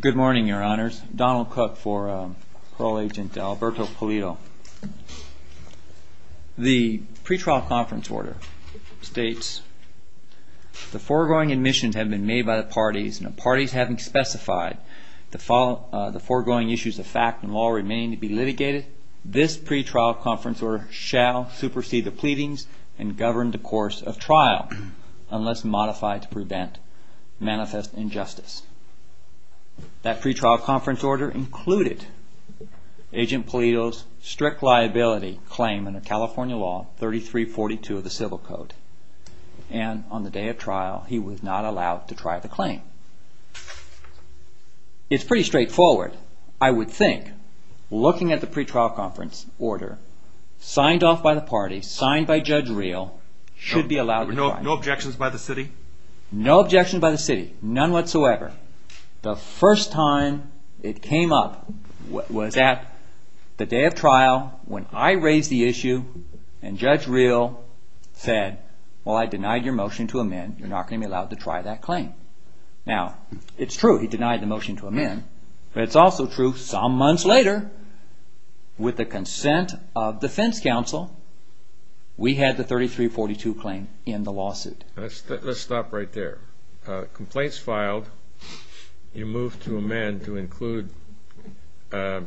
Good morning, your honors. Donald Cook for Parole Agent Alberto Polito. The pre-trial conference order states, The foregoing admissions have been made by the parties and the parties having specified the foregoing issues of fact and law remaining to be litigated, this pre-trial conference order shall supersede the pleadings and govern the course of trial unless modified to prevent manifest injustice. That pre-trial conference order included Agent Polito's strict liability claim under California law 3342 of the Civil Code and on the day of trial he was not allowed to try the claim. It's pretty straightforward. I would think looking at the pre-trial conference order signed off by the parties, signed by Judge Reel, should be allowed to try. No objections by the city? No objections by the city. None whatsoever. The first time it came up was at the day of trial when I raised the issue and Judge Reel said, Well, I denied your motion to amend. You're not going to be allowed to try that claim. Now it's true he denied the motion to amend, but it's also true some months later with the consent of defense counsel, we had the 3342 claim in the lawsuit. Let's stop right there. Complaints filed, you moved to amend to include the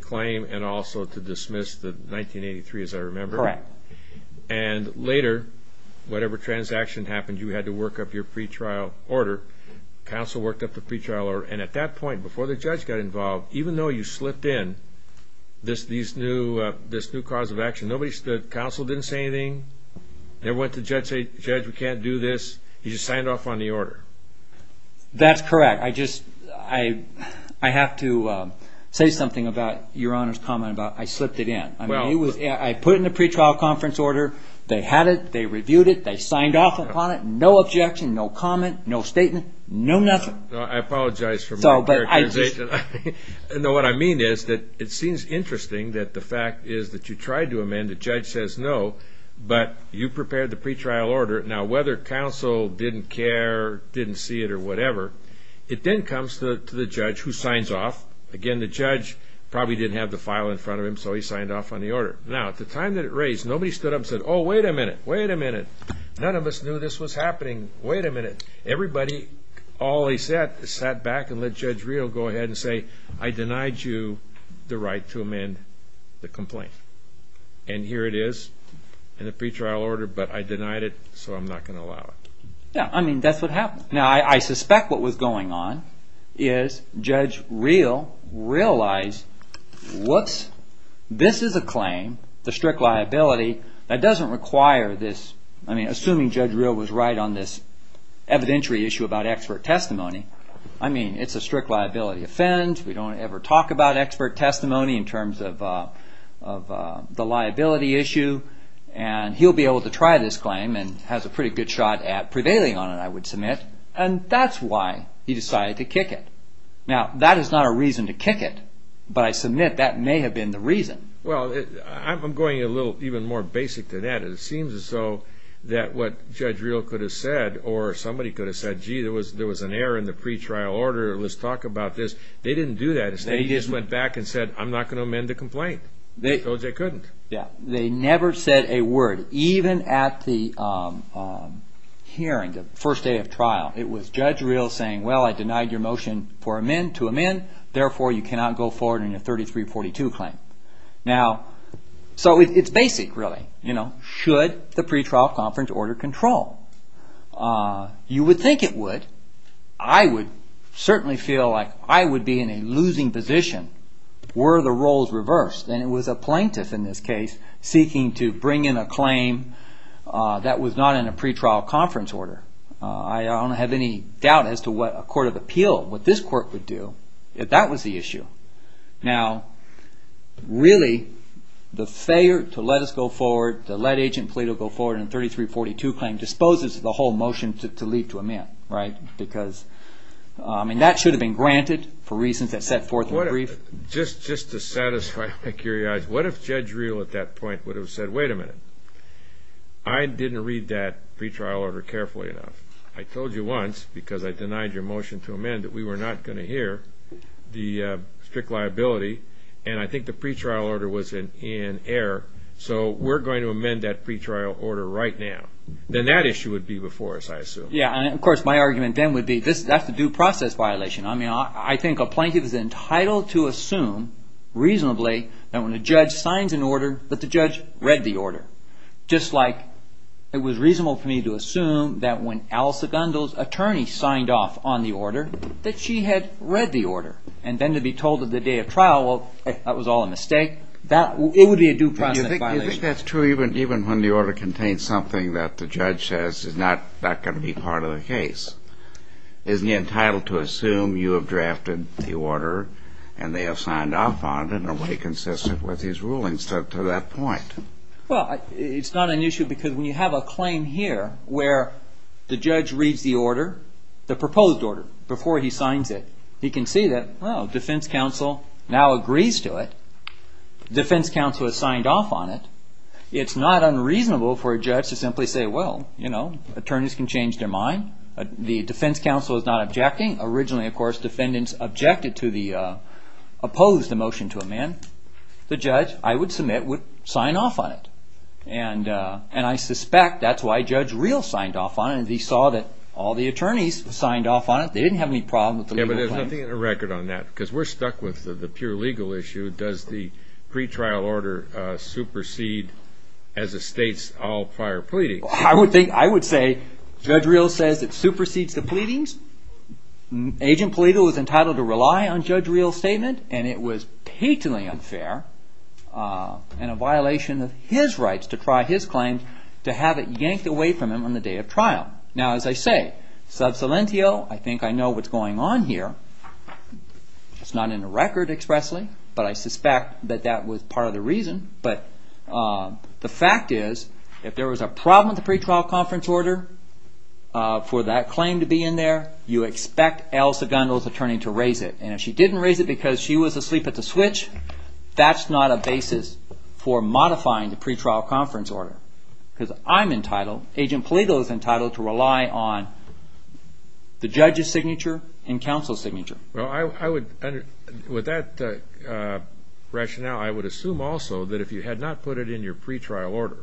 claim and also to dismiss the 1983 as I remember. And later, whatever transaction happened, you had to work up your pre-trial order. Counsel worked up the pre-trial order and at that point before the judge got involved, even though you slipped in this new cause of action, the counsel didn't say anything. They went to the judge and said, Judge, we can't do this. He just signed off on the order. That's correct. I have to say something about your Honor's comment about I slipped it in. I put it in the pre-trial conference order. They had it. They reviewed it. They signed off upon it. No objection. No comment. No statement. No nothing. I apologize for my characterization. No, but I just... What I mean is that it seems interesting that the fact is that you tried to amend. The judge says no, but you prepared the pre-trial order. Now whether counsel didn't care, didn't see it or whatever, it then comes to the judge who signs off. Again, the judge probably didn't have the file in front of him, so he signed off on the order. Now, at the time that it raised, nobody stood up and said, Oh, wait a minute. Wait a minute. None of us knew this was happening. Wait a minute. Everybody, all they said, sat back and let Judge Reel go ahead and say, I denied you the right to amend the complaint. And here it is in the pre-trial order, but I denied it, so I'm not going to allow it. Yeah, I mean, that's what happened. Now, I suspect what was going on is Judge Reel realized, whoops, this is a claim, the strict liability, that doesn't require this... I mean, assuming Judge Reel was right on this evidentiary issue about expert testimony. I mean, it's a strict liability offense. We don't ever talk about expert testimony in terms of the liability issue, and he'll be able to try this claim and has a pretty good shot at prevailing on it, I would submit, and that's why he decided to kick it. Now, that is not a reason to kick it, but I submit that may have been the reason. Well, I'm going a little even more basic than that. It seems as though that what Judge Reel could have said, or somebody could have said, gee, there was an error in the pre-trial order. Let's talk about this. They didn't do that. Instead, he just went back and said, I'm not going to amend the complaint. They told you they couldn't. Yeah. They never said a word. Even at the hearing, the first day of trial, it was Judge Reel saying, well, I denied your motion to amend. Therefore, you cannot go forward on your 3342 claim. Now, so it's basic, really. Should the pre-trial conference order control? You would think it would. I would certainly feel like I would be in a losing position were the roles reversed, and it was a plaintiff in this case seeking to bring in a claim that was not in a pre-trial conference order. I don't have any doubt as to what a court of appeal, what this court would do if that was the issue. Now, really, the failure to let us go forward, to let Agent Plato go forward on a 3342 claim disposes of the whole motion to leave to amend, right? Because, I mean, that should have been granted for reasons that set forth in the brief. Just to satisfy my curiosity, what if Judge Reel at that point would have said, wait a minute, I didn't read that pre-trial order carefully enough. I told you once, because I denied your motion to amend, that we were not going to hear the strict liability, and I think the pre-trial order was in error, so we're going to amend that pre-trial order right now. Then that issue would be before us, I assume. Yeah, and of course, my argument then would be, that's a due process violation. I mean, I think a plaintiff is entitled to assume, reasonably, that when a judge signs an order, that the judge read the order. Just like it was reasonable for me to assume that when Alyssa Gundel's attorney signed off on the order, that she had read the order. And then to be told at the day of trial, well, that was all a mistake, it would be a due process violation. I think that's true even when the order contains something that the judge says is not going to be part of the case. Isn't he entitled to assume you have drafted the order, and they have signed off on it, in a way consistent with his rulings to that point? Well, it's not an issue, because when you have a claim here, where the judge reads the order, the proposed order, before he signs it, he can see that, well, defense counsel now agrees to it. Defense counsel has signed off on it. It's not unreasonable for a judge to simply say, well, you know, attorneys can change their mind. The defense counsel is not objecting. Originally, of course, defendants objected to the, opposed the motion to amend. The judge, I would submit, would sign off on it. And I suspect that's why Judge Reel signed off on it. He saw that all the attorneys signed off on it. They didn't have any problem with the legal claims. Yeah, but there's nothing in the record on that, because we're stuck with the pure legal issue. Does the pretrial order supersede, as it states, all prior pleadings? I would say Judge Reel says it supersedes the pleadings. Agent Polito was entitled to rely on Judge Reel's statement, and it was patently unfair and a violation of his rights to try his claims, to have it yanked away from him on the day of trial. Now, as I say, sub silentio, I think I know what's going on here. It's not in the record expressly, but I suspect that that was part of the reason. But the fact is, if there was a problem with the pretrial conference order for that claim to be in there, you expect Al Segundo's attorney to raise it. And if she didn't raise it because she was asleep at the switch, that's not a basis for modifying the pretrial conference order. Because I'm entitled, Agent Polito is entitled, to rely on the judge's signature and counsel's signature. With that rationale, I would assume also that if you had not put it in your pretrial order,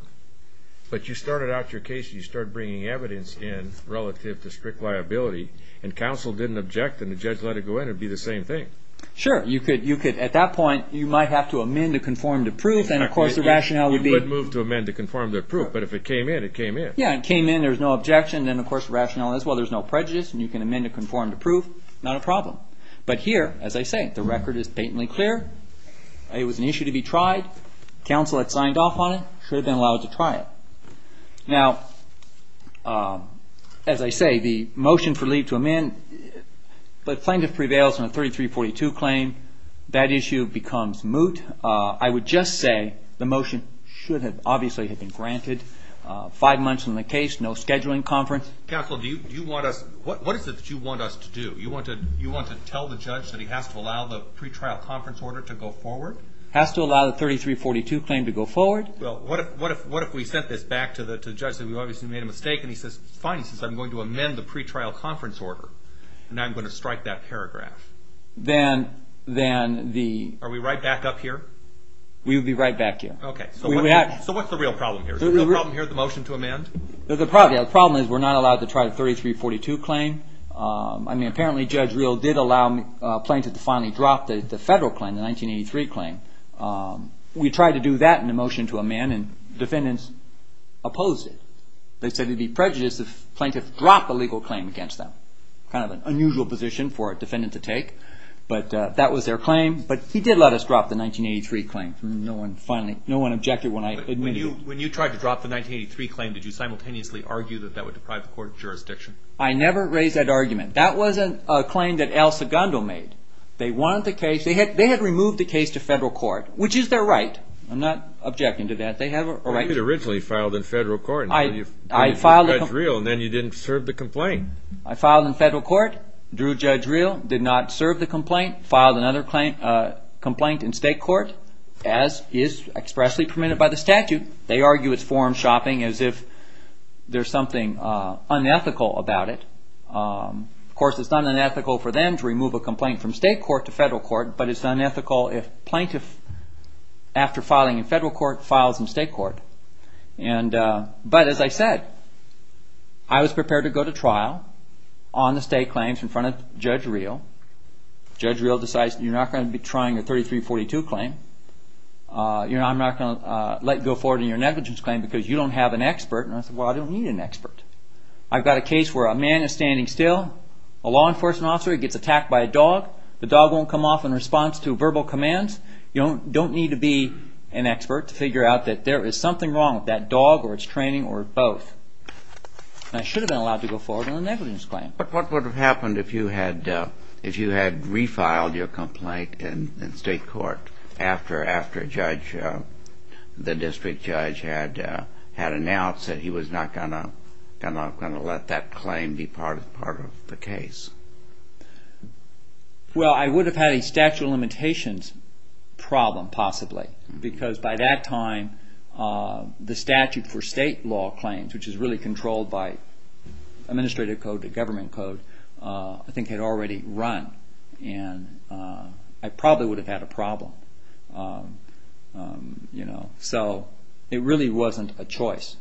but you started out your case, you started bringing evidence in relative to strict liability, and counsel didn't object and the judge let it go in, it would be the same thing. Sure. You could, at that point, you might have to amend to conform to proof, and of course the rationale would be... You could move to amend to conform to proof, but if it came in, it came in. Yeah, it came in, there was no objection, and then of course the rationale is, well, there's no prejudice and you can amend to conform to proof, not a problem. But here, as I say, the record is patently clear. It was an issue to be tried. Counsel had signed off on it, should have been allowed to try it. Now, as I say, the motion for leave to amend, but plaintiff prevails on a 3342 claim, that issue becomes moot. I would just say the motion should have obviously have been granted. Five months in the case, no scheduling conference. Counsel, do you want us, what is it that you want us to do? You want to tell the judge that he has to allow the pretrial conference order to go forward? Has to allow the 3342 claim to go forward. Well, what if we sent this back to the judge, and we obviously made a mistake, and he says, fine, since I'm going to amend the pretrial conference order, and I'm going to strike that paragraph? Then the... Are we right back up here? We would be right back here. Okay, so what's the real problem here? Is the real problem here the motion to amend? The problem is we're not allowed to try the 3342 claim. I mean, apparently Judge did allow plaintiff to finally drop the federal claim, the 1983 claim. We tried to do that in the motion to amend, and defendants opposed it. They said it would be prejudiced if plaintiff dropped the legal claim against them. Kind of an unusual position for a defendant to take, but that was their claim. But he did let us drop the 1983 claim. No one objected when I admitted it. When you tried to drop the 1983 claim, did you simultaneously argue that that would deprive the court of jurisdiction? I never raised that argument. That wasn't a claim that Al Segundo made. They wanted the case... They had removed the case to federal court, which is their right. I'm not objecting to that. They have a right to... But you had originally filed in federal court, and then you... I filed in... And then you didn't serve the complaint. I filed in federal court, drew Judge real, did not serve the complaint, filed another complaint in state court, as is expressly permitted by the statute. They argue it's unethical about it. Of course, it's not unethical for them to remove a complaint from state court to federal court, but it's unethical if plaintiff, after filing in federal court, files in state court. But as I said, I was prepared to go to trial on the state claims in front of Judge real. Judge real decides you're not going to be trying a 3342 claim. I'm not going to let you go forward on your negligence claim because you don't have an expert. I've got a case where a man is standing still. A law enforcement officer gets attacked by a dog. The dog won't come off in response to verbal commands. You don't need to be an expert to figure out that there is something wrong with that dog or its training or both. And I should have been allowed to go forward on a negligence claim. But what would have happened if you had refiled your complaint in state court after the district judge had announced that he was not going to let that claim be part of the case? Well, I would have had a statute of limitations problem, possibly, because by that time the statute for state law claims, which is really controlled by administrative code, the government So it really wasn't a choice.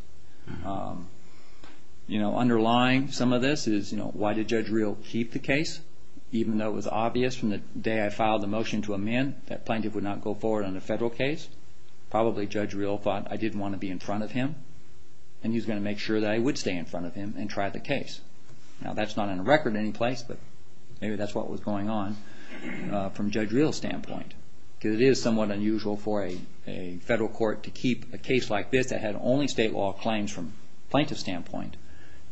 Underlying some of this is, why did Judge real keep the case? Even though it was obvious from the day I filed the motion to amend that plaintiff would not go forward on a federal case, probably Judge real thought I didn't want to be in front of him and he was going to make sure that I would stay in front of him and try the case. Now that's not on the record in any place, but maybe that's what was going on from Judge real's standpoint. It is somewhat unusual for a federal court to keep a case like this that had only state law claims from plaintiff's standpoint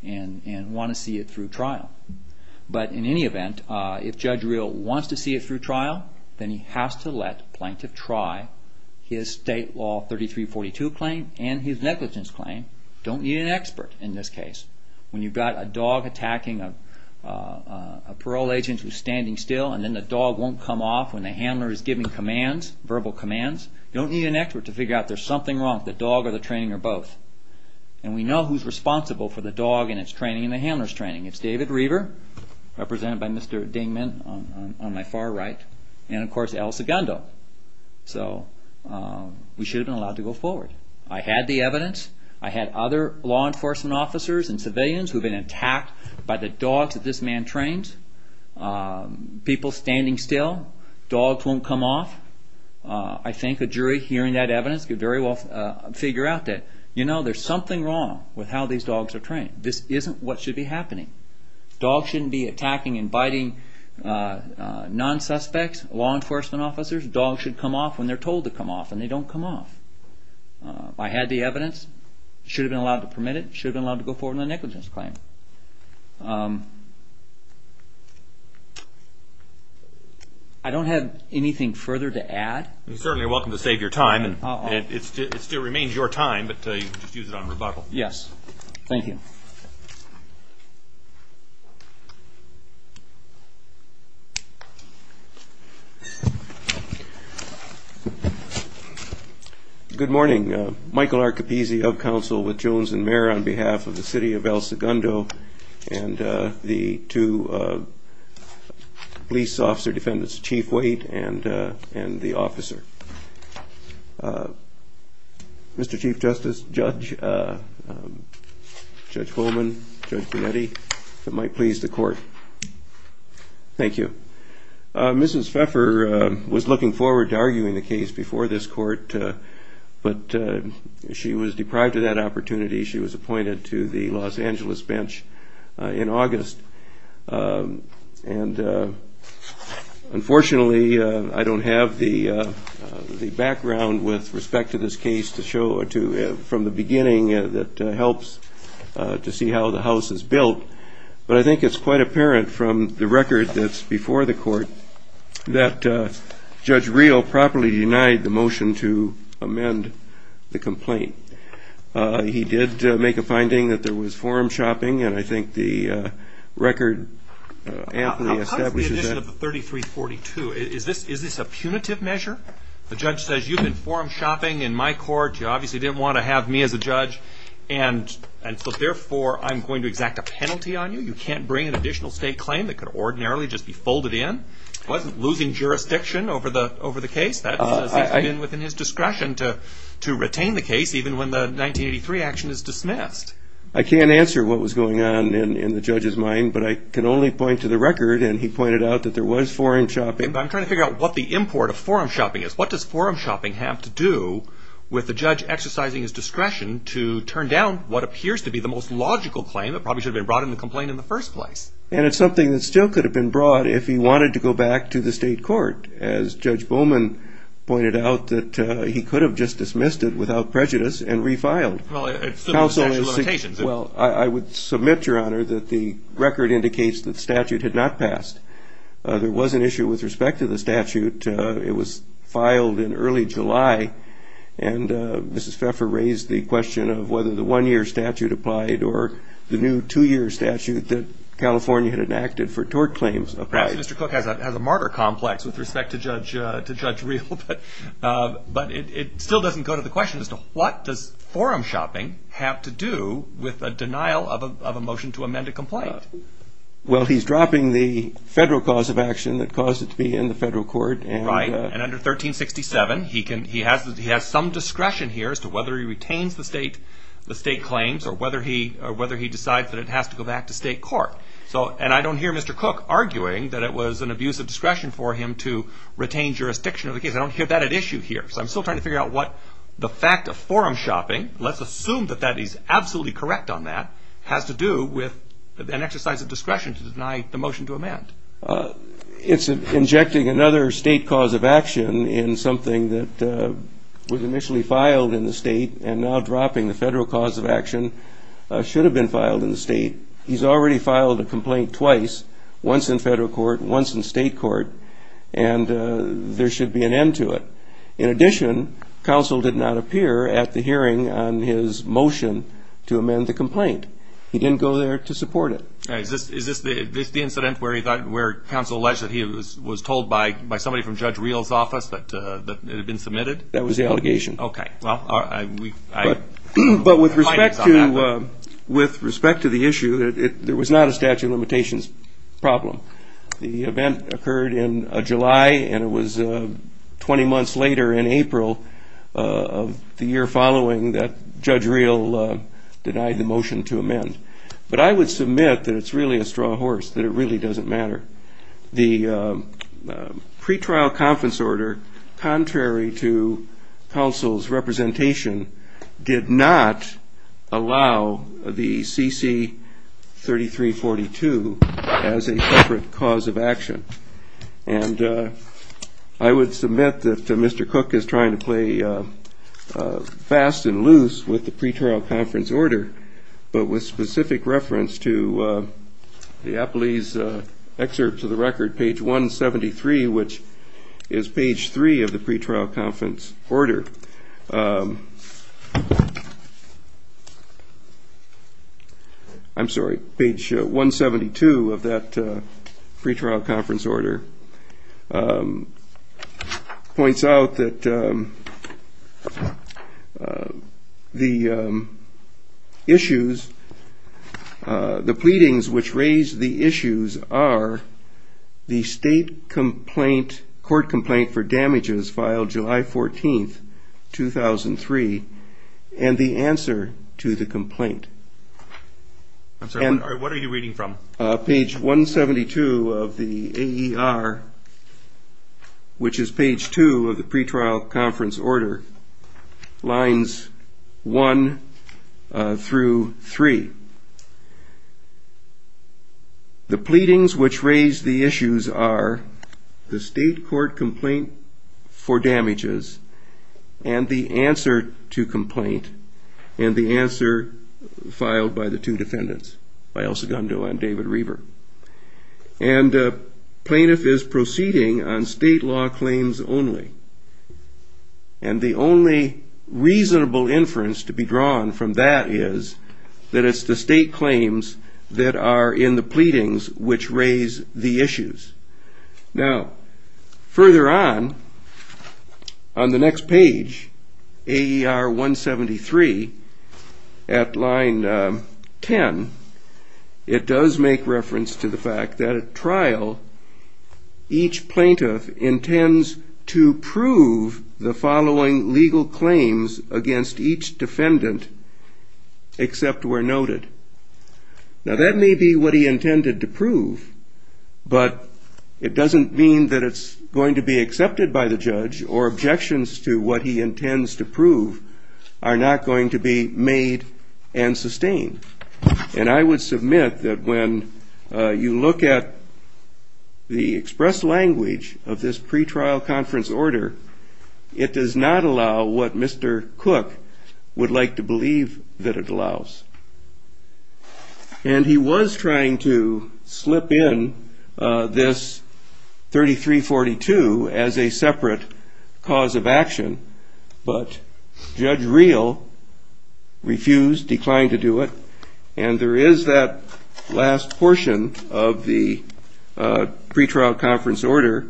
and want to see it through trial. But in any event, if Judge real wants to see it through trial, then he has to let plaintiff try his state law 3342 claim and his negligence claim. You don't need an expert in this case. When you've got a dog attacking a parole agent who's standing still and then the dog won't come off when the handler is giving commands, verbal commands, you don't need an expert to figure out there's something wrong with the dog or the training or both. And we know who's responsible for the dog and its training and the handler's training. It's David Reaver, represented by Mr. Dingman on my far right, and of course Al Segundo. So we should have been allowed to go forward. I had the evidence. I had other law enforcement officers and civilians who have been attacked by the dogs that this man trains. People standing still. Dogs won't come off. I think a jury hearing that evidence could very well figure out that there's something wrong with how these dogs are trained. This isn't what should be happening. Dogs shouldn't be attacking and biting non-suspects, law enforcement officers. Dogs should come off when they're told to come off and they don't come off. I had the evidence. Should have been allowed to permit it. Should have been allowed to go forward with a negligence claim. I don't have anything further to add. You're certainly welcome to save your time. It still remains your time, but you can just use it on rebuttal. Yes. Thank you. Good morning. Michael Archipizzi of counsel with Jones and Mayer on behalf of the city of Al Segundo and the two police officer defendants, Chief Waite and the officer. Mr. Chief Justice, Judge Coleman, Judge Bonetti, if it might please the court. Thank you. Mrs. Pfeffer was looking forward to arguing the case before this court, but she was deprived of that opportunity. She was appointed to the Los Angeles bench in August. And unfortunately, I don't have the background with respect to this case to show from the beginning that helps to see how the house is built. But I think it's quite apparent from the record that's before the court that Judge Reel properly denied the motion to amend the complaint. He did make a finding that there was forum shopping, and I think the record amply establishes that. How come it's the addition of the 3342? Is this a punitive measure? The judge says you've been forum shopping in my court. You obviously didn't want to have me as a judge. And so therefore I'm going to exact a penalty on you. You can't bring an additional state claim that could ordinarily just be folded in. He wasn't losing jurisdiction over the case. That's within his discretion to retain the case even when the 1983 action is dismissed. I can't answer what was going on in the judge's mind, but I can only point to the record, and he pointed out that there was forum shopping. I'm trying to figure out what the import of forum shopping is. What does forum shopping have to do with the judge exercising his discretion to turn down what appears to be the most logical claim that probably should have been brought in the complaint in the first place? And it's something that still could have been brought if he wanted to go back to the state court, as Judge Bowman pointed out, that he could have just dismissed it without prejudice and refiled. Well, I would submit, Your Honor, that the record indicates that the statute had not passed. There was an issue with respect to the statute. It was filed in early July, and Mrs. Pfeffer raised the question of whether the one-year statute applied or the new two-year statute that California had enacted for tort claims applied. Perhaps Mr. Cook has a martyr complex with respect to Judge Reel, but it still doesn't go to the question as to what does forum shopping have to do with a denial of a motion to amend a complaint? Well, he's dropping the federal cause of action that caused it to be in the federal court. Right, and under 1367, he has some discretion here as to whether he retains the state claims or whether he decides that it has to go back to state court. And I don't hear Mr. Cook arguing that it was an abuse of discretion for him to retain jurisdiction of the case. I don't hear that at issue here. So I'm still trying to figure out what the fact of forum shopping, let's assume that he's absolutely correct on that, has to do with an exercise of discretion to deny the motion to amend. It's injecting another state cause of action in something that was initially filed in the state and now dropping the federal cause of action should have been filed in the state. He's already filed a complaint twice, once in federal court, once in state court, and there should be an end to it. In addition, counsel did not appear at the hearing on his motion to amend the complaint. He didn't go there to support it. Is this the incident where he thought, where counsel alleged that he was told by somebody from Judge Reel's But with respect to the issue, there was not a statute of limitations problem. The event occurred in July and it was 20 months later in April of the year following that Judge Reel denied the motion to amend. But I would submit that it's really a straw horse, that it really doesn't matter. The pretrial conference order, contrary to counsel's representation, did not allow the CC3342 as a separate cause of action. And I would submit that Mr. Cook is trying to play fast and loose with the pretrial conference order, but with specific reference to the Appley's excerpt to the record, page 173, which is page 3 of the pretrial conference order. I'm sorry, page 172 of that pretrial conference order points out that the issues, the pleadings which raise the issues are the state complaint, court complaint for damages filed July 14th, 2003, and the answer to the complaint. I'm sorry, what are you reading from? Page 172 of the AER, which is page 2 of the pretrial conference order, lines 1 through 3. The pleadings which raise the issues are the state court complaint for damages and the answer to complaint, and the answer filed by the two defendants, Elsa Gundo and David Reaver. And plaintiff is proceeding on state law claims only. And the only reasonable inference to be drawn from that is that it's the state claims that are in the pleadings which raise the issues. Now, further on, on the next page, AER 173, at line 10, it does make reference to the fact that at trial, each plaintiff intends to prove the following legal claims against each defendant except where noted. Now that may be what he intended to prove, but it doesn't mean that it's going to be accepted by the judge or objections to what he intends to prove are not going to be made and sustained. And I would submit that when you look at the express language of this pretrial conference order, it does not allow what Mr. Cook would like to believe that it allows. And he was trying to slip in this 3342 as a separate cause of action, but Judge Reel refused, declined to do it. And there is that last portion of the pretrial conference order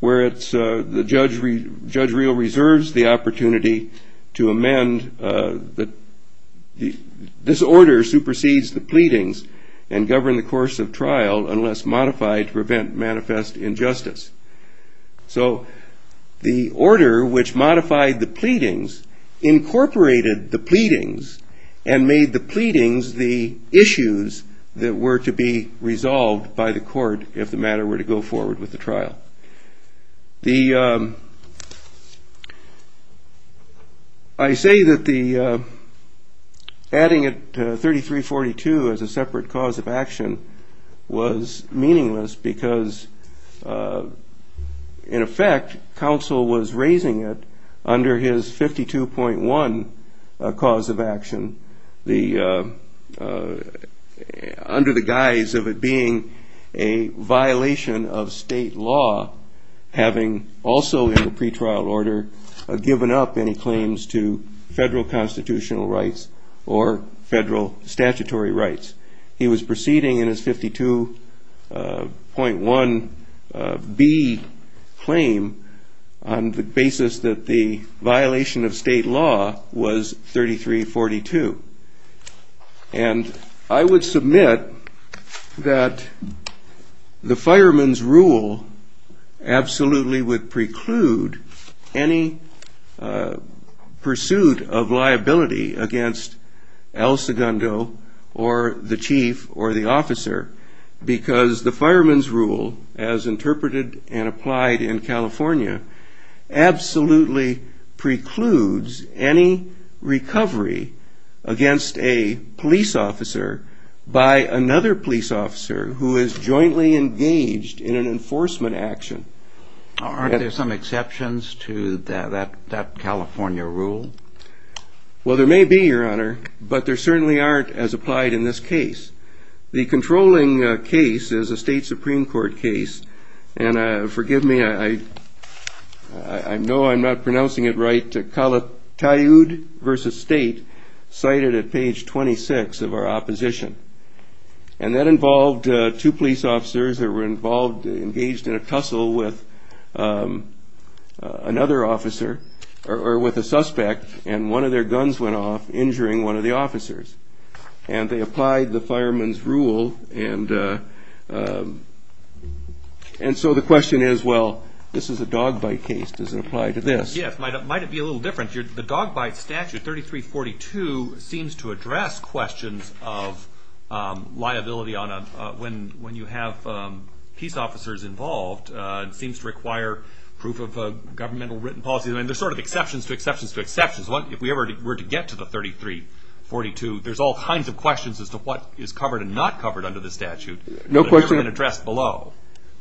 where it's the judge, Judge Reel reserves the opportunity to amend the, this order supersedes the pleadings and govern the course of trial unless modified to prevent manifest injustice. So the order which modified the pleadings incorporated the pleadings and made the pleadings the issues that were to be resolved by the court if the matter were to go forward with the trial. I say that the adding it to 3342 as a separate cause of action was meaningless because in addressing it under his 52.1 cause of action, under the guise of it being a violation of state law, having also in the pretrial order given up any claims to federal constitutional rights or federal statutory rights. He was proceeding in his 52.1B claim on the basis that the violation of state law was 3342. And I would submit that the fireman's rule absolutely would preclude any pursuit of liability against El Segundo or the chief or the officer because the fireman's rule as interpreted and applied in California absolutely precludes any recovery against a police officer by another police officer who is jointly engaged in an enforcement action. Aren't there some exceptions to that California rule? Well, there may be, your honor, but there certainly aren't as applied in this case. The controlling case is a state Supreme Court case. And forgive me, I know I'm not pronouncing it right. Calatayud versus state cited at page 26 of our opposition. And that involved two police officers that were involved, engaged in a tussle with another officer or with a suspect. And one of their guns went off injuring one of the officers. And they applied the fireman's rule. And so the question is, well, this is a dog bite case. Does it apply to this? Yes, it might be a little different. The dog bite statute 3342 seems to address questions of liability when you have peace officers involved. It seems to require proof of governmental written policy. I mean, there's sort of exceptions to exceptions to exceptions. If we were to get to the 3342, there's all kinds of questions as to what is covered and not covered under the statute. No question addressed below.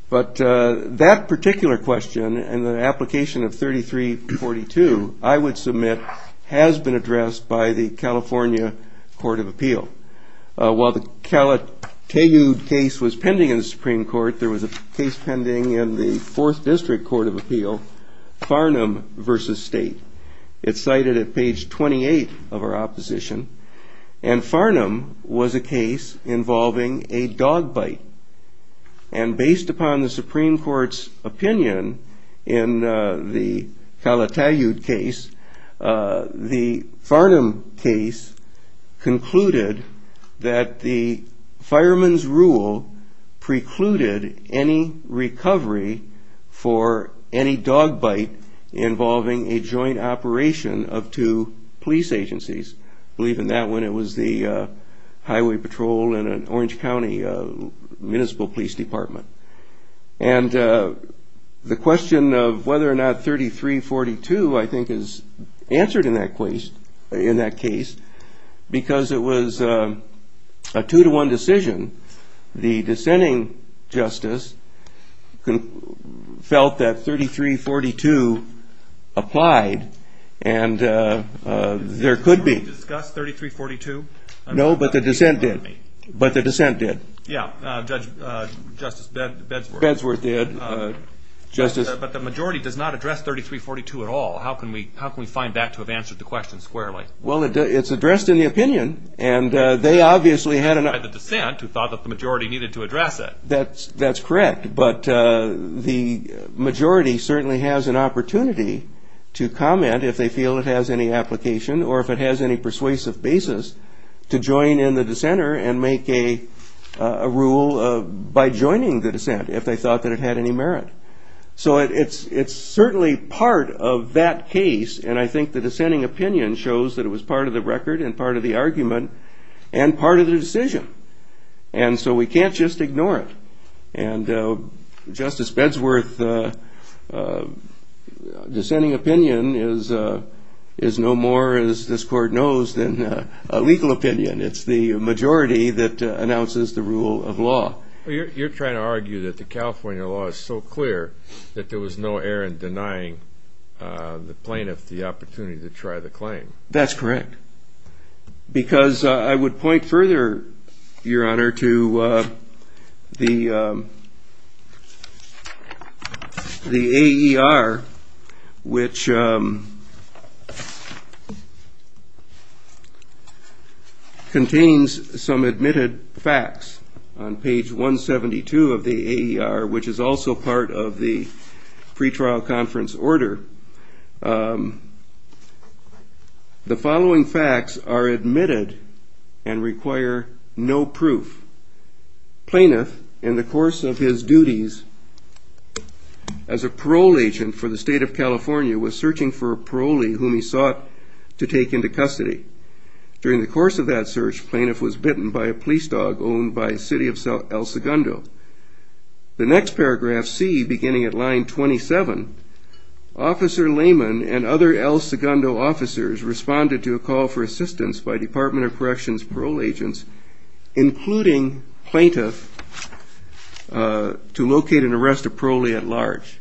But that particular question and the has been addressed by the California Court of Appeal. While the Calatayud case was pending in the Supreme Court, there was a case pending in the 4th District Court of Appeal, Farnham versus state. It's cited at page 28 of our opposition. And Farnham was a case involving a dog bite. And based upon the The Farnham case concluded that the fireman's rule precluded any recovery for any dog bite involving a joint operation of two police agencies. Believe in that one, it was the Highway Patrol and Orange answered in that case in that case because it was a two to one decision. The dissenting justice felt that 3342 applied and there could be discussed 3342. No, but the dissent did. But the dissent did. Yeah, Judge Justice Bedsworth did. But the majority does not address 3342 at all. How can we how can we find that to have answered the question squarely? Well, it's addressed in the opinion and they obviously had enough of the dissent who thought that the majority needed to address it. That's correct. But the majority certainly has an opportunity to comment if they feel it has any application or if it has any persuasive basis to join in the dissenter and make a rule by joining the dissent if they thought that it had any merit. So it's it's certainly part of that case. And I think the dissenting opinion shows that it was part of the record and part of the argument and part of the decision. And so we can't just ignore it. And Justice Bedsworth dissenting opinion is is no more as this court knows than a legal opinion. It's the law is so clear that there was no error in denying the plaintiff the opportunity to try the claim. That's correct, because I would point further, Your Honor, to the the AER, which contains some admitted facts on page 172 of the AER, which is also part of the pretrial conference order. The following facts are admitted and require no proof. Plaintiff, in the course of his duties as a parole agent for the state of California, was searching for a parolee whom he sought to take into custody. During the course of that search, plaintiff was bitten by a police dog owned by the city of El Segundo. The next paragraph, C, beginning at line 27, Officer Lehman and other El Segundo officers responded to a call for assistance by Department of Corrections parole agents, including plaintiff, to locate an arrest of parolee at large.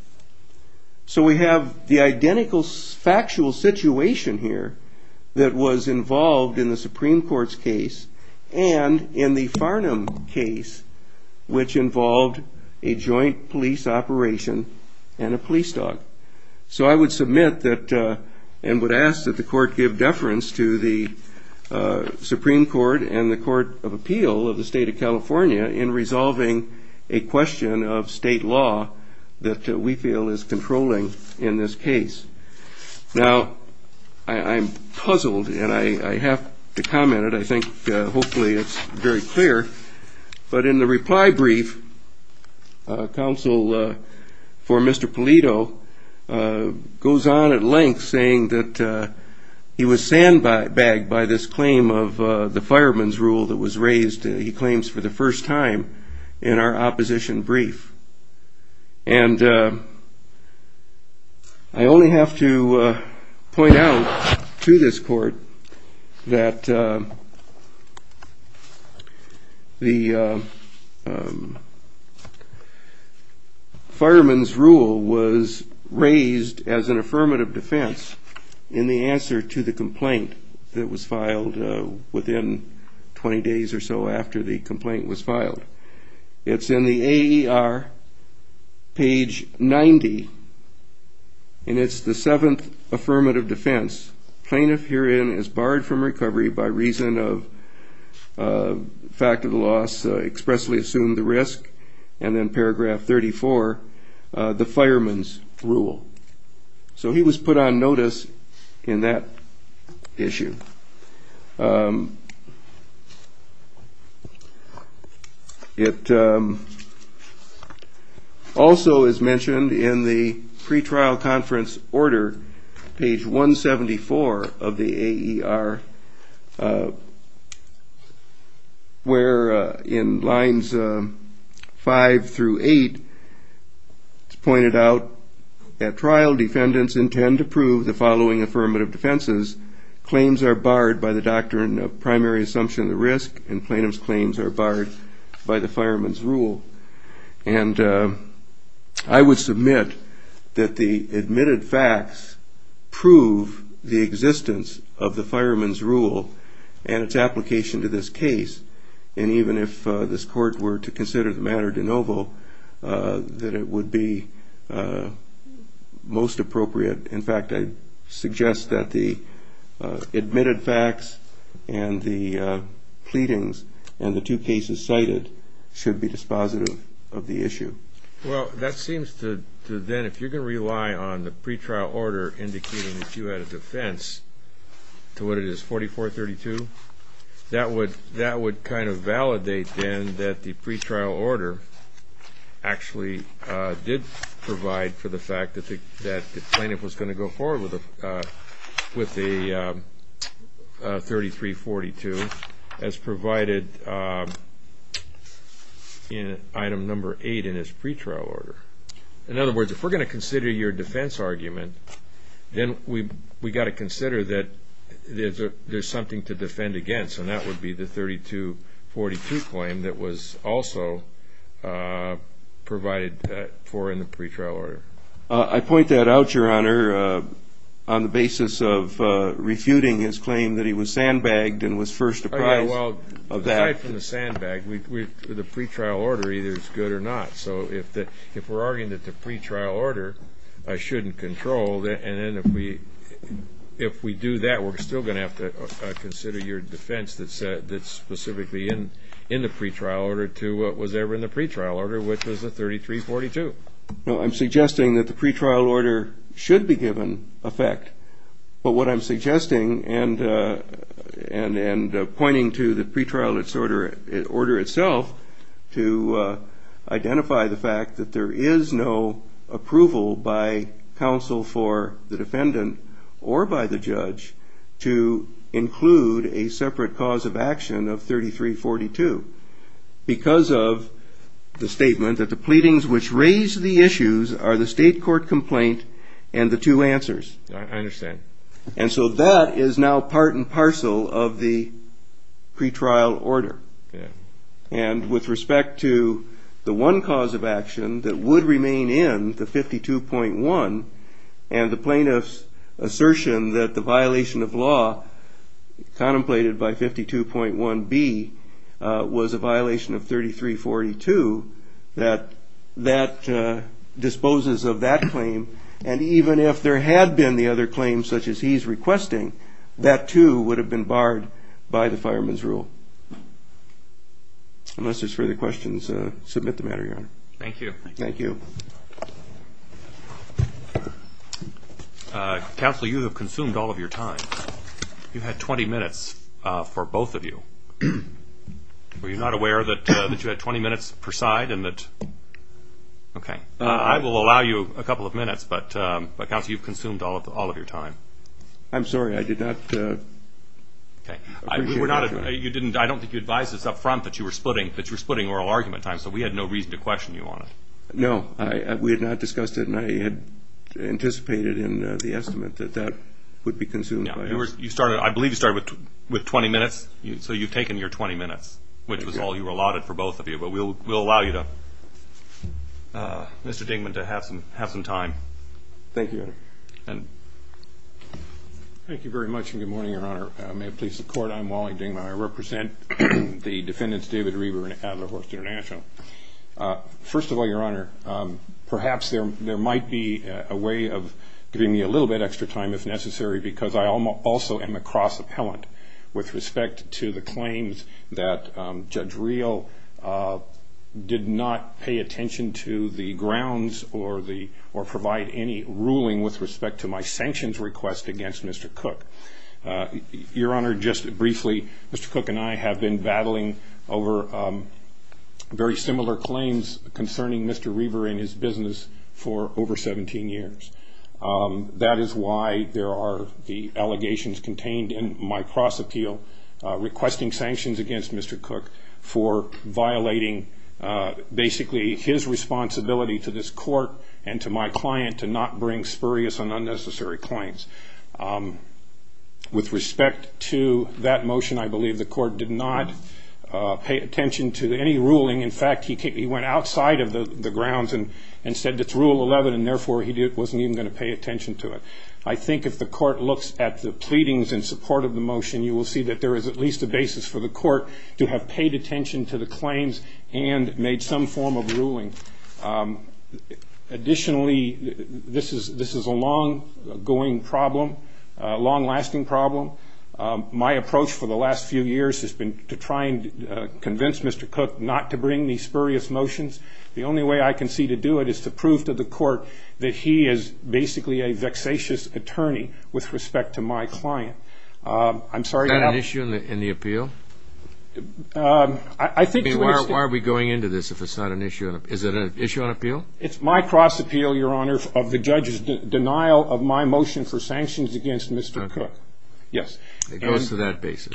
So we have the identical factual situation here that was involved in the Farnham case, which involved a joint police operation and a police dog. So I would submit that and would ask that the court give deference to the Supreme Court and the Court of Appeal of the state of California in resolving a question of But in the reply brief, counsel for Mr. Polito goes on at length saying that he was sandbagged by this claim of the fireman's rule that was raised, he claims, for the first time in our opposition brief. And I only have to point out to this court that the complaint was filed. It's in the AER, page 90, and it's the 7th affirmative defense. Plaintiff herein is barred from recovery by reason of fact of the loss, expressly assumed the risk, and then paragraph 34, the fireman's rule. So he was put on notice in that issue. It also is mentioned in the pretrial conference order, page 174 of the AER, where in lines 5 through 8, it's pointed out that trial defendants intend to prove the following affirmative defenses. Claims are barred by the doctrine of primary assumption of the risk, and plaintiff's claims are barred by the fireman's rule. And I would submit that the admitted facts prove the existence of the fireman's rule and its application to this case. And even if this court were to consider the matter de novo, that it would be most appropriate. In fact, I suggest that the admitted facts and the pleadings and the two cases cited should be dispositive of the issue. Well, that seems to then, if you're going to rely on the That would kind of validate then that the pretrial order actually did provide for the fact that the plaintiff was going to go forward with the 3342 as provided in item number 8 in his And that would be the 3242 claim that was also provided for in the pretrial order. I point that out, Your Honor, on the basis of refuting his claim that he was sandbagged and was first apprised of that. Well, aside from the sandbag, the pretrial order either is good or not. So if we're arguing that the pretrial order shouldn't control, and then if we do that, we're still going to have to consider your defense that's specifically in the pretrial order to what was ever in the pretrial order, which was the 3342. No, I'm suggesting that the pretrial order should be given effect. But what I'm suggesting and pointing to the pretrial order itself to identify the fact that there is no approval by counsel for the defendant or by the judge to include a separate cause of action of 3342. Because of the statement that the pleadings which raise the issues are the state court complaint and the two answers. I understand. And so that is now part and parcel of the pretrial order. Yeah. And with respect to the one cause of action that would remain in the 52.1 and the plaintiff's assertion that the violation of law contemplated by 52.1b would not be considered in the pretrial order. It was a violation of 3342 that that disposes of that claim. And even if there had been the other claims such as he's requesting, that too would have been barred by the fireman's rule. Unless there's further questions, submit the matter. Thank you. Thank you. Counsel, you have consumed all of your time. You had 20 minutes for both of you. Were you not aware that you had 20 minutes per side and that. Okay. I will allow you a couple of minutes, but you've consumed all of your time. I'm sorry. I did not. I don't think you advised us up front that you were splitting oral argument time, so we had no reason to question you on it. No, we had not discussed it, and I had anticipated in the estimate that that would be consumed. I believe you started with 20 minutes, so you've taken your 20 minutes, which was all you were allotted for both of you. But we'll allow you to, Mr. Dingman, to have some time. Thank you. Thank you very much, and good morning, Your Honor. May it please the court, I'm Wally Dingman. I represent the defendants David Reber and Adler Horst International. First of all, Your Honor, perhaps there might be a way of giving me a little bit extra time if necessary, because I also am a cross-appellant with respect to the claims that Judge Real did not pay attention to the grounds or provide any ruling with respect to my sanctions request against Mr. Cook. Your Honor, just briefly, Mr. Cook and I have been battling over very similar claims concerning Mr. Reber and his business for over 17 years. That is why there are the allegations contained in my cross-appeal requesting sanctions against Mr. Cook for violating basically his responsibility to this court and to my client to not bring spurious and unnecessary claims. With respect to that motion, I believe the court did not pay attention to any ruling. In fact, he went outside of the grounds and said it's Rule 11, and therefore he wasn't even going to pay attention to it. I think if the court looks at the pleadings in support of the motion, you will see that there is at least a basis for the court to have paid attention to the claims and made some form of ruling. Additionally, this is a long-lasting problem. My approach for the last few years has been to try and convince Mr. Cook not to bring these spurious motions. The only way I can see to do it is to prove to the court that he is basically a vexatious attorney with respect to my client. Is that an issue in the appeal? Why are we going into this if it's not an issue? Is it an issue on appeal? It's my cross-appeal, Your Honor, of the judge's denial of my motion for sanctions against Mr. Cook. It goes to that basis.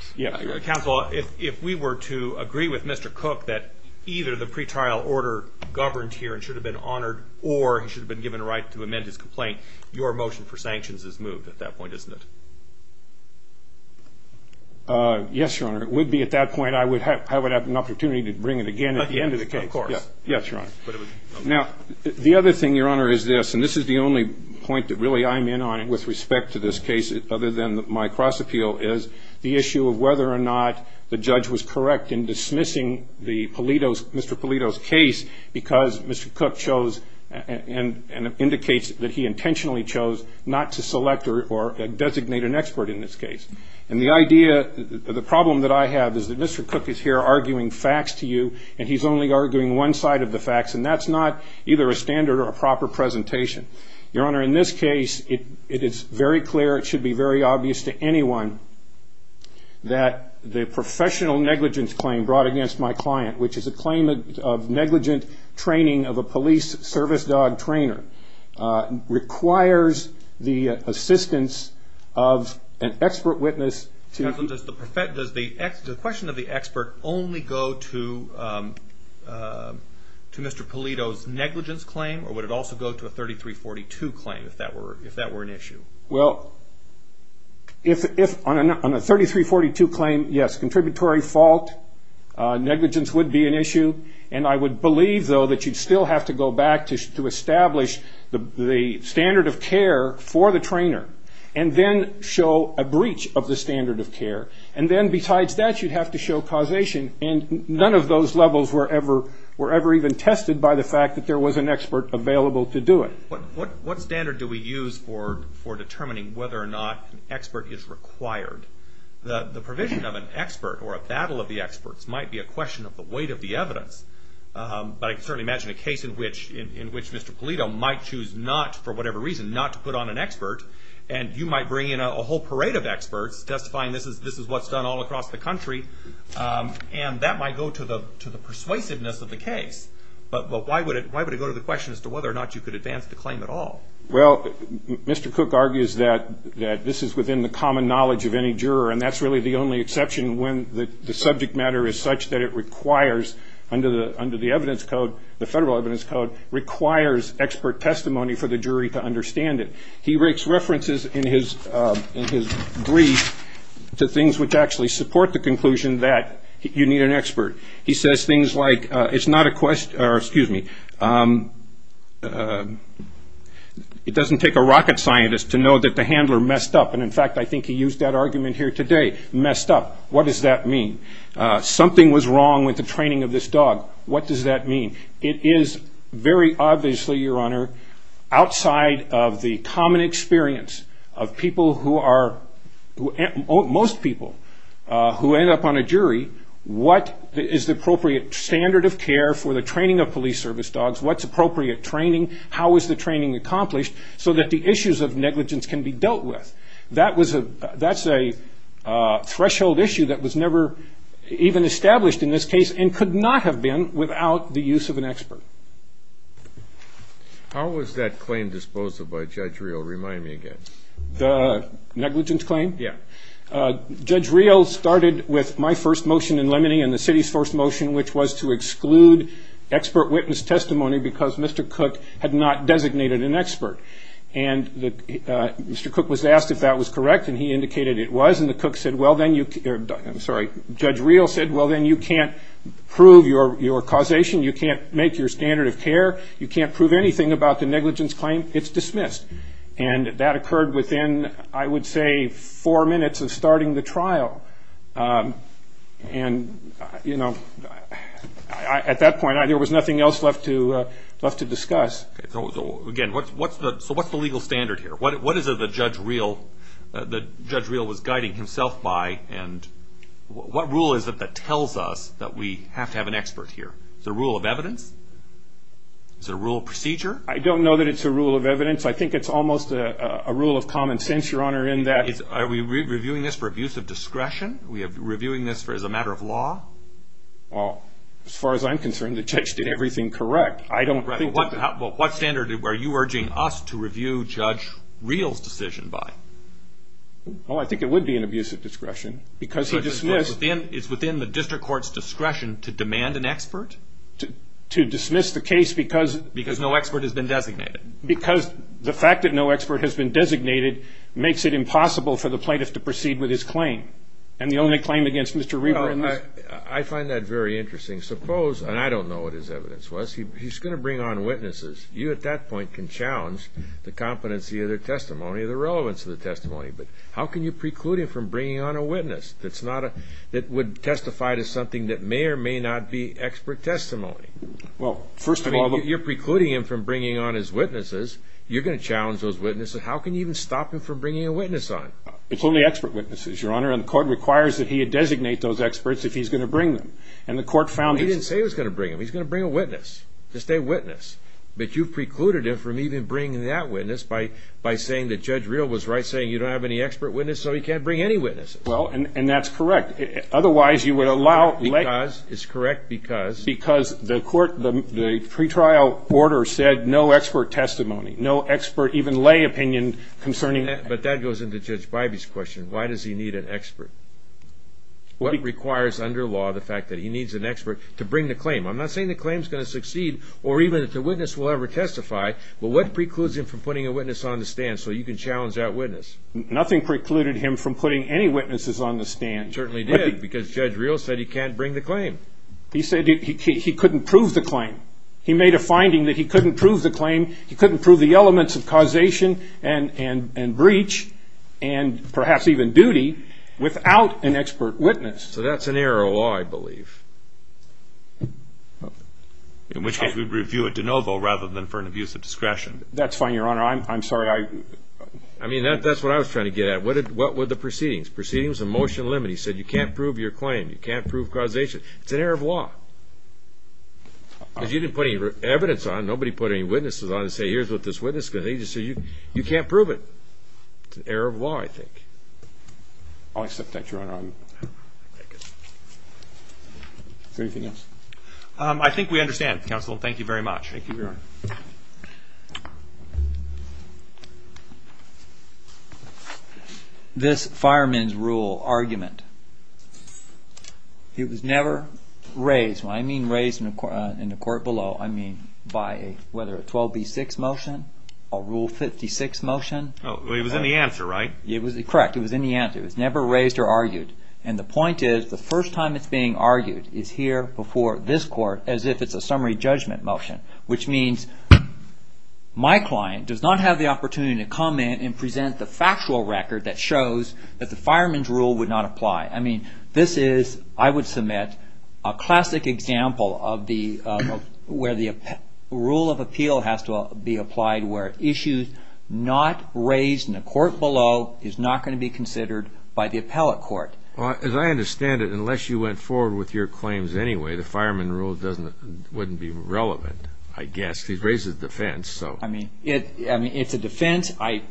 Counsel, if we were to agree with Mr. Cook that either the pretrial order governed here and should have been honored or he should have been given a right to amend his complaint, your motion for sanctions is moved at that point, isn't it? Yes, Your Honor. It would be at that point. I would have an opportunity to bring it again at the end of the case. Of course. Yes, Your Honor. Now, the other thing, Your Honor, is this. And this is the only point that really I'm in on with respect to this case other than my cross-appeal is the issue of whether or not the judge was correct in dismissing Mr. Polito's case because Mr. Cook chose and indicates that he intentionally chose not to select or designate an expert in this case. And the idea, the problem that I have is that Mr. Cook is here arguing facts to you, and he's only arguing one side of the facts, and that's not either a standard or a proper presentation. Your Honor, in this case, it is very clear, it should be very obvious to anyone that the professional negligence claim brought against my client, which is a claim of negligent training of a police service dog trainer, requires the assistance of an expert witness. Counsel, does the question of the expert only go to Mr. Polito's negligence claim, or would it also go to a 3342 claim if that were an issue? Well, if on a 3342 claim, yes, contributory fault, negligence would be an issue, and I would believe, though, that you'd still have to go back to establish the standard of care for the trainer and then show a breach of the standard of care. And then besides that, you'd have to show causation, and none of those levels were ever even tested by the fact that there was an expert available to do it. What standard do we use for determining whether or not an expert is required? The provision of an expert or a battle of the experts might be a question of the weight of the evidence, but I can certainly imagine a case in which Mr. Polito might choose not, for whatever reason, not to put on an expert, and you might bring in a whole parade of experts testifying this is what's done all across the country, and that might go to the persuasiveness of the case. But why would it go to the question as to whether or not you could advance the claim at all? Well, Mr. Cook argues that this is within the common knowledge of any juror, and that's really the only exception when the subject matter is such that it requires, under the federal evidence code, requires expert testimony for the jury to understand it. He makes references in his brief to things which actually support the conclusion that you need an expert. He says things like, it doesn't take a rocket scientist to know that the handler messed up, and in fact I think he used that argument here today, messed up. What does that mean? Something was wrong with the training of this dog. What does that mean? It is very obviously, Your Honor, outside of the common experience of most people who end up on a jury, what is the appropriate standard of care for the training of police service dogs? What's appropriate training? How is the training accomplished so that the issues of negligence can be dealt with? That's a threshold issue that was never even established in this case and could not have been without the use of an expert. How was that claim disposed of by Judge Reel? Remind me again. The negligence claim? Yeah. Judge Reel started with my first motion in Lemony and the city's first motion, which was to exclude expert witness testimony because Mr. Cook had not designated an expert. Mr. Cook was asked if that was correct, and he indicated it was, and Judge Reel said, well, then you can't prove your causation. You can't make your standard of care. You can't prove anything about the negligence claim. It's dismissed, and that occurred within, I would say, four minutes of starting the trial, and at that point, there was nothing else left to discuss. Again, so what's the legal standard here? What is it that Judge Reel was guiding himself by, and what rule is it that tells us that we have to have an expert here? Is it a rule of evidence? Is it a rule of procedure? I don't know that it's a rule of evidence. I think it's almost a rule of common sense, Your Honor, in that. Are we reviewing this for abuse of discretion? Are we reviewing this as a matter of law? Well, as far as I'm concerned, the judge did everything correct. Well, what standard are you urging us to review Judge Reel's decision by? Well, I think it would be an abuse of discretion because he dismissed. So it's within the district court's discretion to demand an expert? To dismiss the case because... Because no expert has been designated. Because the fact that no expert has been designated makes it impossible for the plaintiff to proceed with his claim, and the only claim against Mr. Reber... I find that very interesting. Suppose, and I don't know what his evidence was, he's going to bring on witnesses. You at that point can challenge the competency of their testimony, the relevance of the testimony. But how can you preclude him from bringing on a witness that would testify to something that may or may not be expert testimony? Well, first of all... You're precluding him from bringing on his witnesses. You're going to challenge those witnesses. How can you even stop him from bringing a witness on? It's only expert witnesses, Your Honor, and the court requires that he designate those experts if he's going to bring them. And the court found that... He didn't say he was going to bring them. He's going to bring a witness, just a witness. But you've precluded him from even bringing that witness by saying that Judge Real was right, saying you don't have any expert witnesses, so he can't bring any witnesses. Well, and that's correct. Otherwise, you would allow... Because... It's correct because... Because the court... The pretrial order said no expert testimony, no expert even lay opinion concerning... But that goes into Judge Bybee's question. Why does he need an expert? What requires under law the fact that he needs an expert to bring the claim? I'm not saying the claim is going to succeed or even that the witness will ever testify. But what precludes him from putting a witness on the stand so you can challenge that witness? Nothing precluded him from putting any witnesses on the stand. He certainly did because Judge Real said he can't bring the claim. He said he couldn't prove the claim. He made a finding that he couldn't prove the claim. And breach, and perhaps even duty, without an expert witness. So that's an error of law, I believe. In which case, we'd review it de novo rather than for an abuse of discretion. That's fine, Your Honor. I'm sorry. I mean, that's what I was trying to get at. What were the proceedings? Proceedings of motion limit. He said you can't prove your claim. You can't prove causation. It's an error of law. Because you didn't put any evidence on. You can't prove it. It's an error of law, I think. I'll accept that, Your Honor. Is there anything else? I think we understand, Counsel. Thank you very much. Thank you, Your Honor. This fireman's rule argument, it was never raised. When I mean raised in the court below, I mean by whether a 12B6 motion or Rule 56 motion. It was in the answer, right? Correct. It was in the answer. It was never raised or argued. And the point is, the first time it's being argued is here before this court as if it's a summary judgment motion. Which means my client does not have the opportunity to come in and present the factual record that shows that the fireman's rule would not apply. I mean, this is, I would submit, a classic example of where the rule of appeal has to be applied where issues not raised in the court below is not going to be considered by the appellate court. As I understand it, unless you went forward with your claims anyway, the fireman's rule wouldn't be relevant, I guess. He's raised his defense, so. I mean, it's a defense. I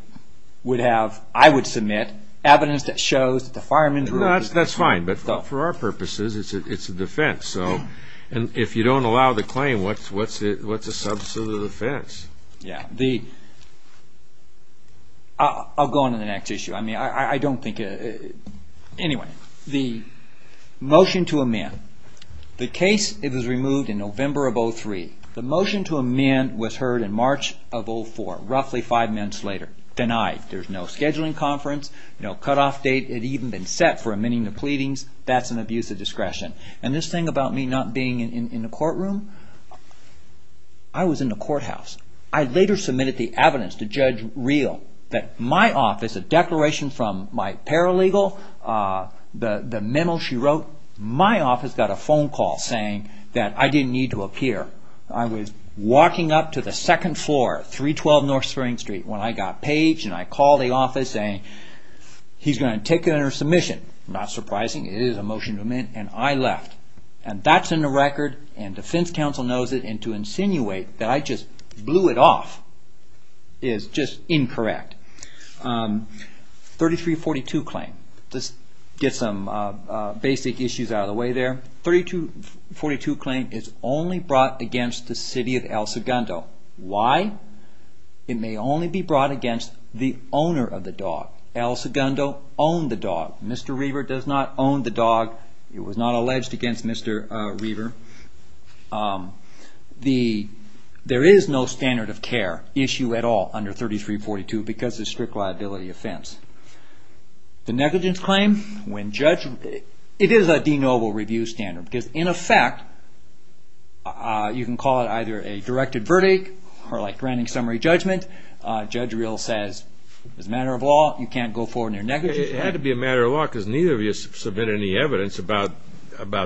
would have, I would submit evidence that shows that the fireman's rule. That's fine, but for our purposes, it's a defense. So, if you don't allow the claim, what's a substantive defense? Yeah. I'll go on to the next issue. I mean, I don't think, anyway. The motion to amend. The case, it was removed in November of 2003. The motion to amend was heard in March of 04, roughly five months later. Denied. There's no scheduling conference, no cutoff date. It had even been set for amending the pleadings. That's an abuse of discretion. And this thing about me not being in the courtroom, I was in the courthouse. I later submitted the evidence to Judge Reel that my office, a declaration from my paralegal, the memo she wrote, my office got a phone call saying that I didn't need to appear. I was walking up to the second floor, 312 North Spring Street, when I got paged and I called the office saying he's going to take it under submission. Not surprising. It is a motion to amend, and I left. And that's in the record, and defense counsel knows it, and to insinuate that I just blew it off is just incorrect. 3342 claim. Just get some basic issues out of the way there. 3342 claim is only brought against the city of El Segundo. Why? It may only be brought against the owner of the dog. El Segundo owned the dog. Mr. Reaver does not own the dog. It was not alleged against Mr. Reaver. There is no standard of care issue at all under 3342 because it's a strict liability offense. The negligence claim, it is a denoble review standard because in effect, you can call it either a directed verdict or a granting summary judgment. Judge Reel says, as a matter of law, you can't go forward on your negligence claim. It had to be a matter of law because neither of you submitted any evidence about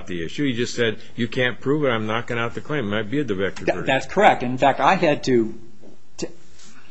the issue. You just said, you can't prove it, I'm knocking out the claim. It might be a directed verdict. That's correct. In fact, I had to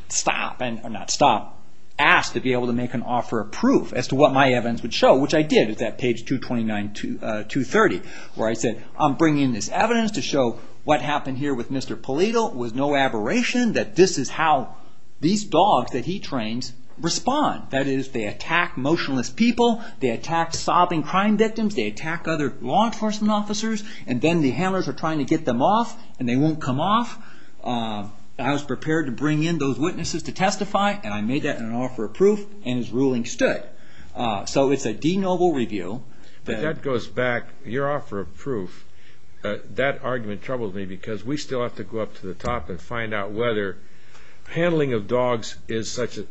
stop and not stop, ask to be able to make an offer of proof as to what my evidence would show, which I did at that page 229-230. Where I said, I'm bringing this evidence to show what happened here with Mr. Polito was no aberration. That this is how these dogs that he trains respond. That is, they attack motionless people. They attack sobbing crime victims. They attack other law enforcement officers. And then the handlers are trying to get them off, and they won't come off. I was prepared to bring in those witnesses to testify, and I made that an offer of proof, and his ruling stood. So it's a denoble review. But that goes back, your offer of proof, that argument troubled me because we still have to go up to the top and find out whether handling of dogs is such an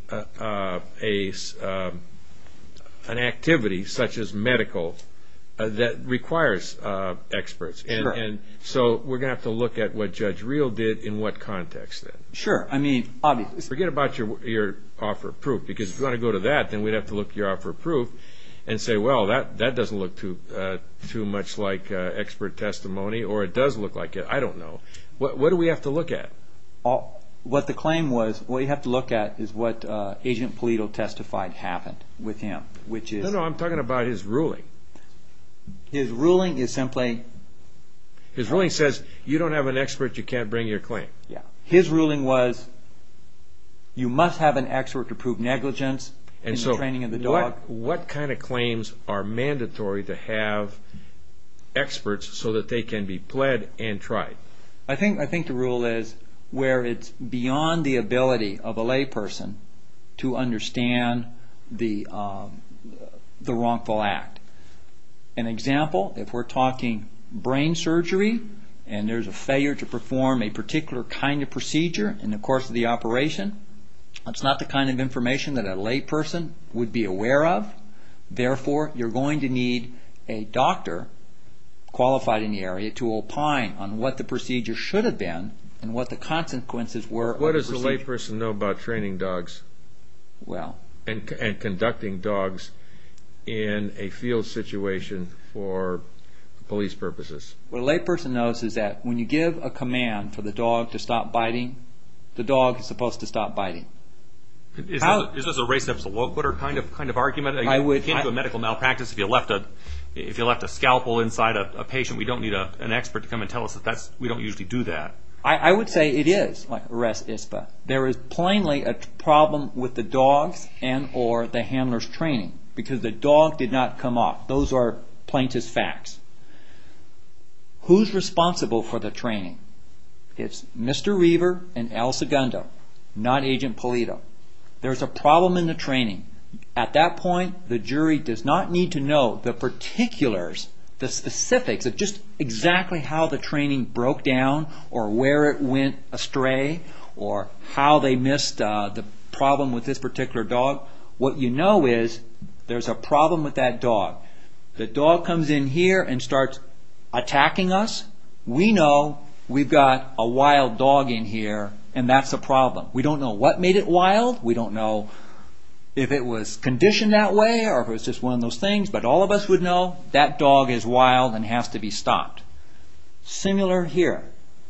activity, such as medical, that requires experts. So we're going to have to look at what Judge Reel did in what context. Sure. Forget about your offer of proof, because if you want to go to that, then we'd have to look at your offer of proof and say, well, that doesn't look too much like expert testimony, or it does look like it. I don't know. What do we have to look at? What the claim was, what you have to look at is what Agent Polito testified happened with him. No, no, I'm talking about his ruling. His ruling is simply... His ruling says, you don't have an expert, you can't bring your claim. His ruling was, you must have an expert to prove negligence in the training of the dog. What kind of claims are mandatory to have experts so that they can be pled and tried? I think the rule is where it's beyond the ability of a layperson to understand the wrongful act. An example, if we're talking brain surgery, and there's a failure to perform a particular kind of procedure in the course of the operation, that's not the kind of information that a layperson would be aware of. Therefore, you're going to need a doctor qualified in the area to opine on what the procedure should have been and what the consequences were of the procedure. What does a layperson know about training dogs and conducting dogs in a field situation for police purposes? What a layperson knows is that when you give a command for the dog to stop biting, the dog is supposed to stop biting. Is this a race epsiloquist kind of argument? You can't do a medical malpractice if you left a scalpel inside a patient. We don't need an expert to come and tell us that. We don't usually do that. I would say it is. There is plainly a problem with the dog's and or the handler's training, because the dog did not come off. Those are plaintiff's facts. Who's responsible for the training? It's Mr. Reaver and Al Segundo, not Agent Pulido. There's a problem in the training. At that point, the jury does not need to know the particulars, the specifics, just exactly how the training broke down or where it went astray or how they missed the problem with this particular dog. The dog comes in here and starts attacking us. We know we've got a wild dog in here, and that's a problem. We don't know what made it wild. We don't know if it was conditioned that way or if it was just one of those things. But all of us would know that dog is wild and has to be stopped. Similar here.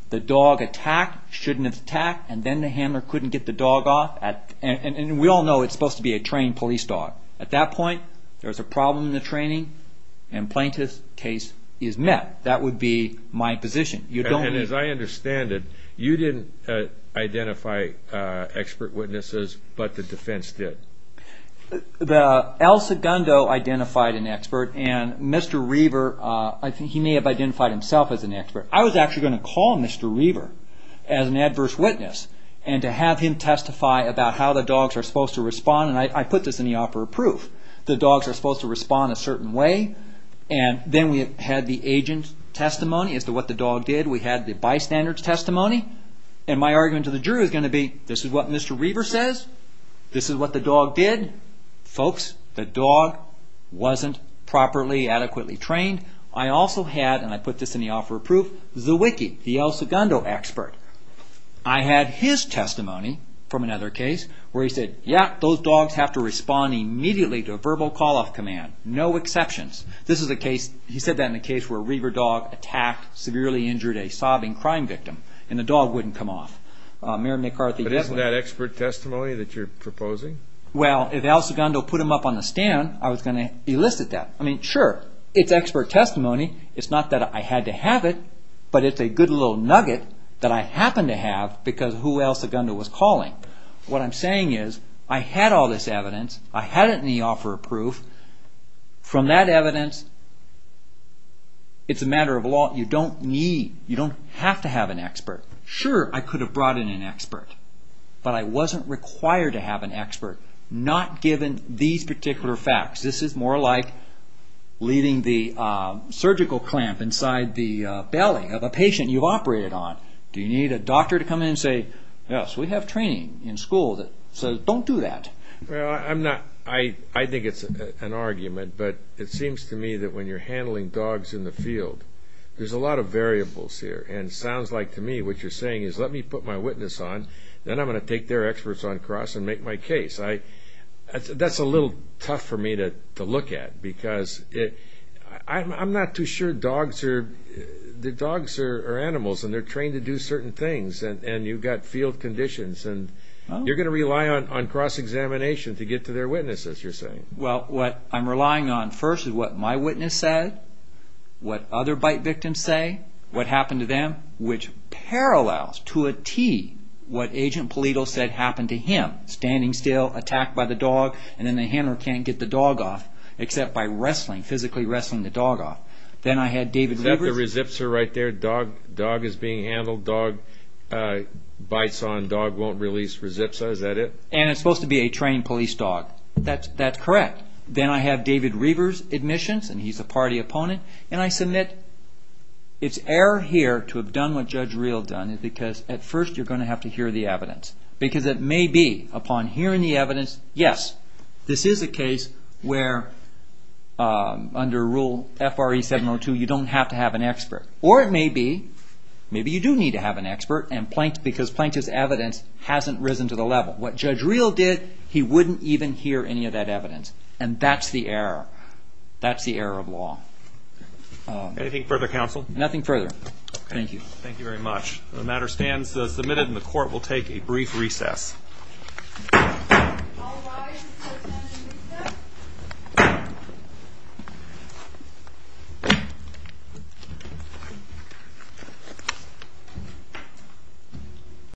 The dog attacked, shouldn't have attacked, and then the handler couldn't get the dog off. And we all know it's supposed to be a trained police dog. At that point, there's a problem in the training, and plaintiff's case is met. That would be my position. And as I understand it, you didn't identify expert witnesses, but the defense did. Al Segundo identified an expert, and Mr. Reaver may have identified himself as an expert. I was actually going to call Mr. Reaver as an adverse witness and to have him testify about how the dogs are supposed to respond. And I put this in the offer of proof. The dogs are supposed to respond a certain way. And then we had the agent's testimony as to what the dog did. We had the bystander's testimony. And my argument to the jury was going to be, this is what Mr. Reaver says, this is what the dog did. Folks, the dog wasn't properly, adequately trained. I also had, and I put this in the offer of proof, the wiki, the Al Segundo expert. I had his testimony from another case where he said, yeah, those dogs have to respond immediately to a verbal call-off command. No exceptions. This is a case, he said that in a case where a Reaver dog attacked, severely injured a sobbing crime victim, and the dog wouldn't come off. But isn't that expert testimony that you're proposing? Well, if Al Segundo put him up on the stand, I was going to elicit that. I mean, sure, it's expert testimony. It's not that I had to have it, but it's a good little nugget that I happened to have because of who Al Segundo was calling. What I'm saying is, I had all this evidence. I had it in the offer of proof. From that evidence, it's a matter of law. You don't need, you don't have to have an expert. Sure, I could have brought in an expert, but I wasn't required to have an expert, not given these particular facts. This is more like leaving the surgical clamp inside the belly of a patient you've operated on. Do you need a doctor to come in and say, yes, we have training in school that says don't do that? Well, I'm not, I think it's an argument, but it seems to me that when you're handling dogs in the field, there's a lot of variables here. And it sounds like to me what you're saying is let me put my witness on, then I'm going to take their experts on cross and make my case. That's a little tough for me to look at because I'm not too sure dogs are, are animals and they're trained to do certain things, and you've got field conditions, and you're going to rely on cross-examination to get to their witnesses, you're saying. Well, what I'm relying on first is what my witness said, what other bite victims say, what happened to them, which parallels to a T what Agent Polito said happened to him, standing still, attacked by the dog, and then the handler can't get the dog off except by wrestling, physically wrestling the dog off. Then I had David Reaver's... Except the resipsa right there, dog is being handled, dog bites on, dog won't release resipsa, is that it? And it's supposed to be a trained police dog. That's correct. Then I have David Reaver's admissions, and he's a party opponent, and I submit it's error here to have done what Judge Real done because at first you're going to have to hear the evidence. Because it may be upon hearing the evidence, yes, this is a case where under Rule FRE 702 you don't have to have an expert. Or it may be, maybe you do need to have an expert because Plankton's evidence hasn't risen to the level. What Judge Real did, he wouldn't even hear any of that evidence, and that's the error. That's the error of law. Anything further, counsel? Nothing further. Thank you. Thank you very much. The matter stands submitted, and the court will take a brief recess. All rise for the standing witness.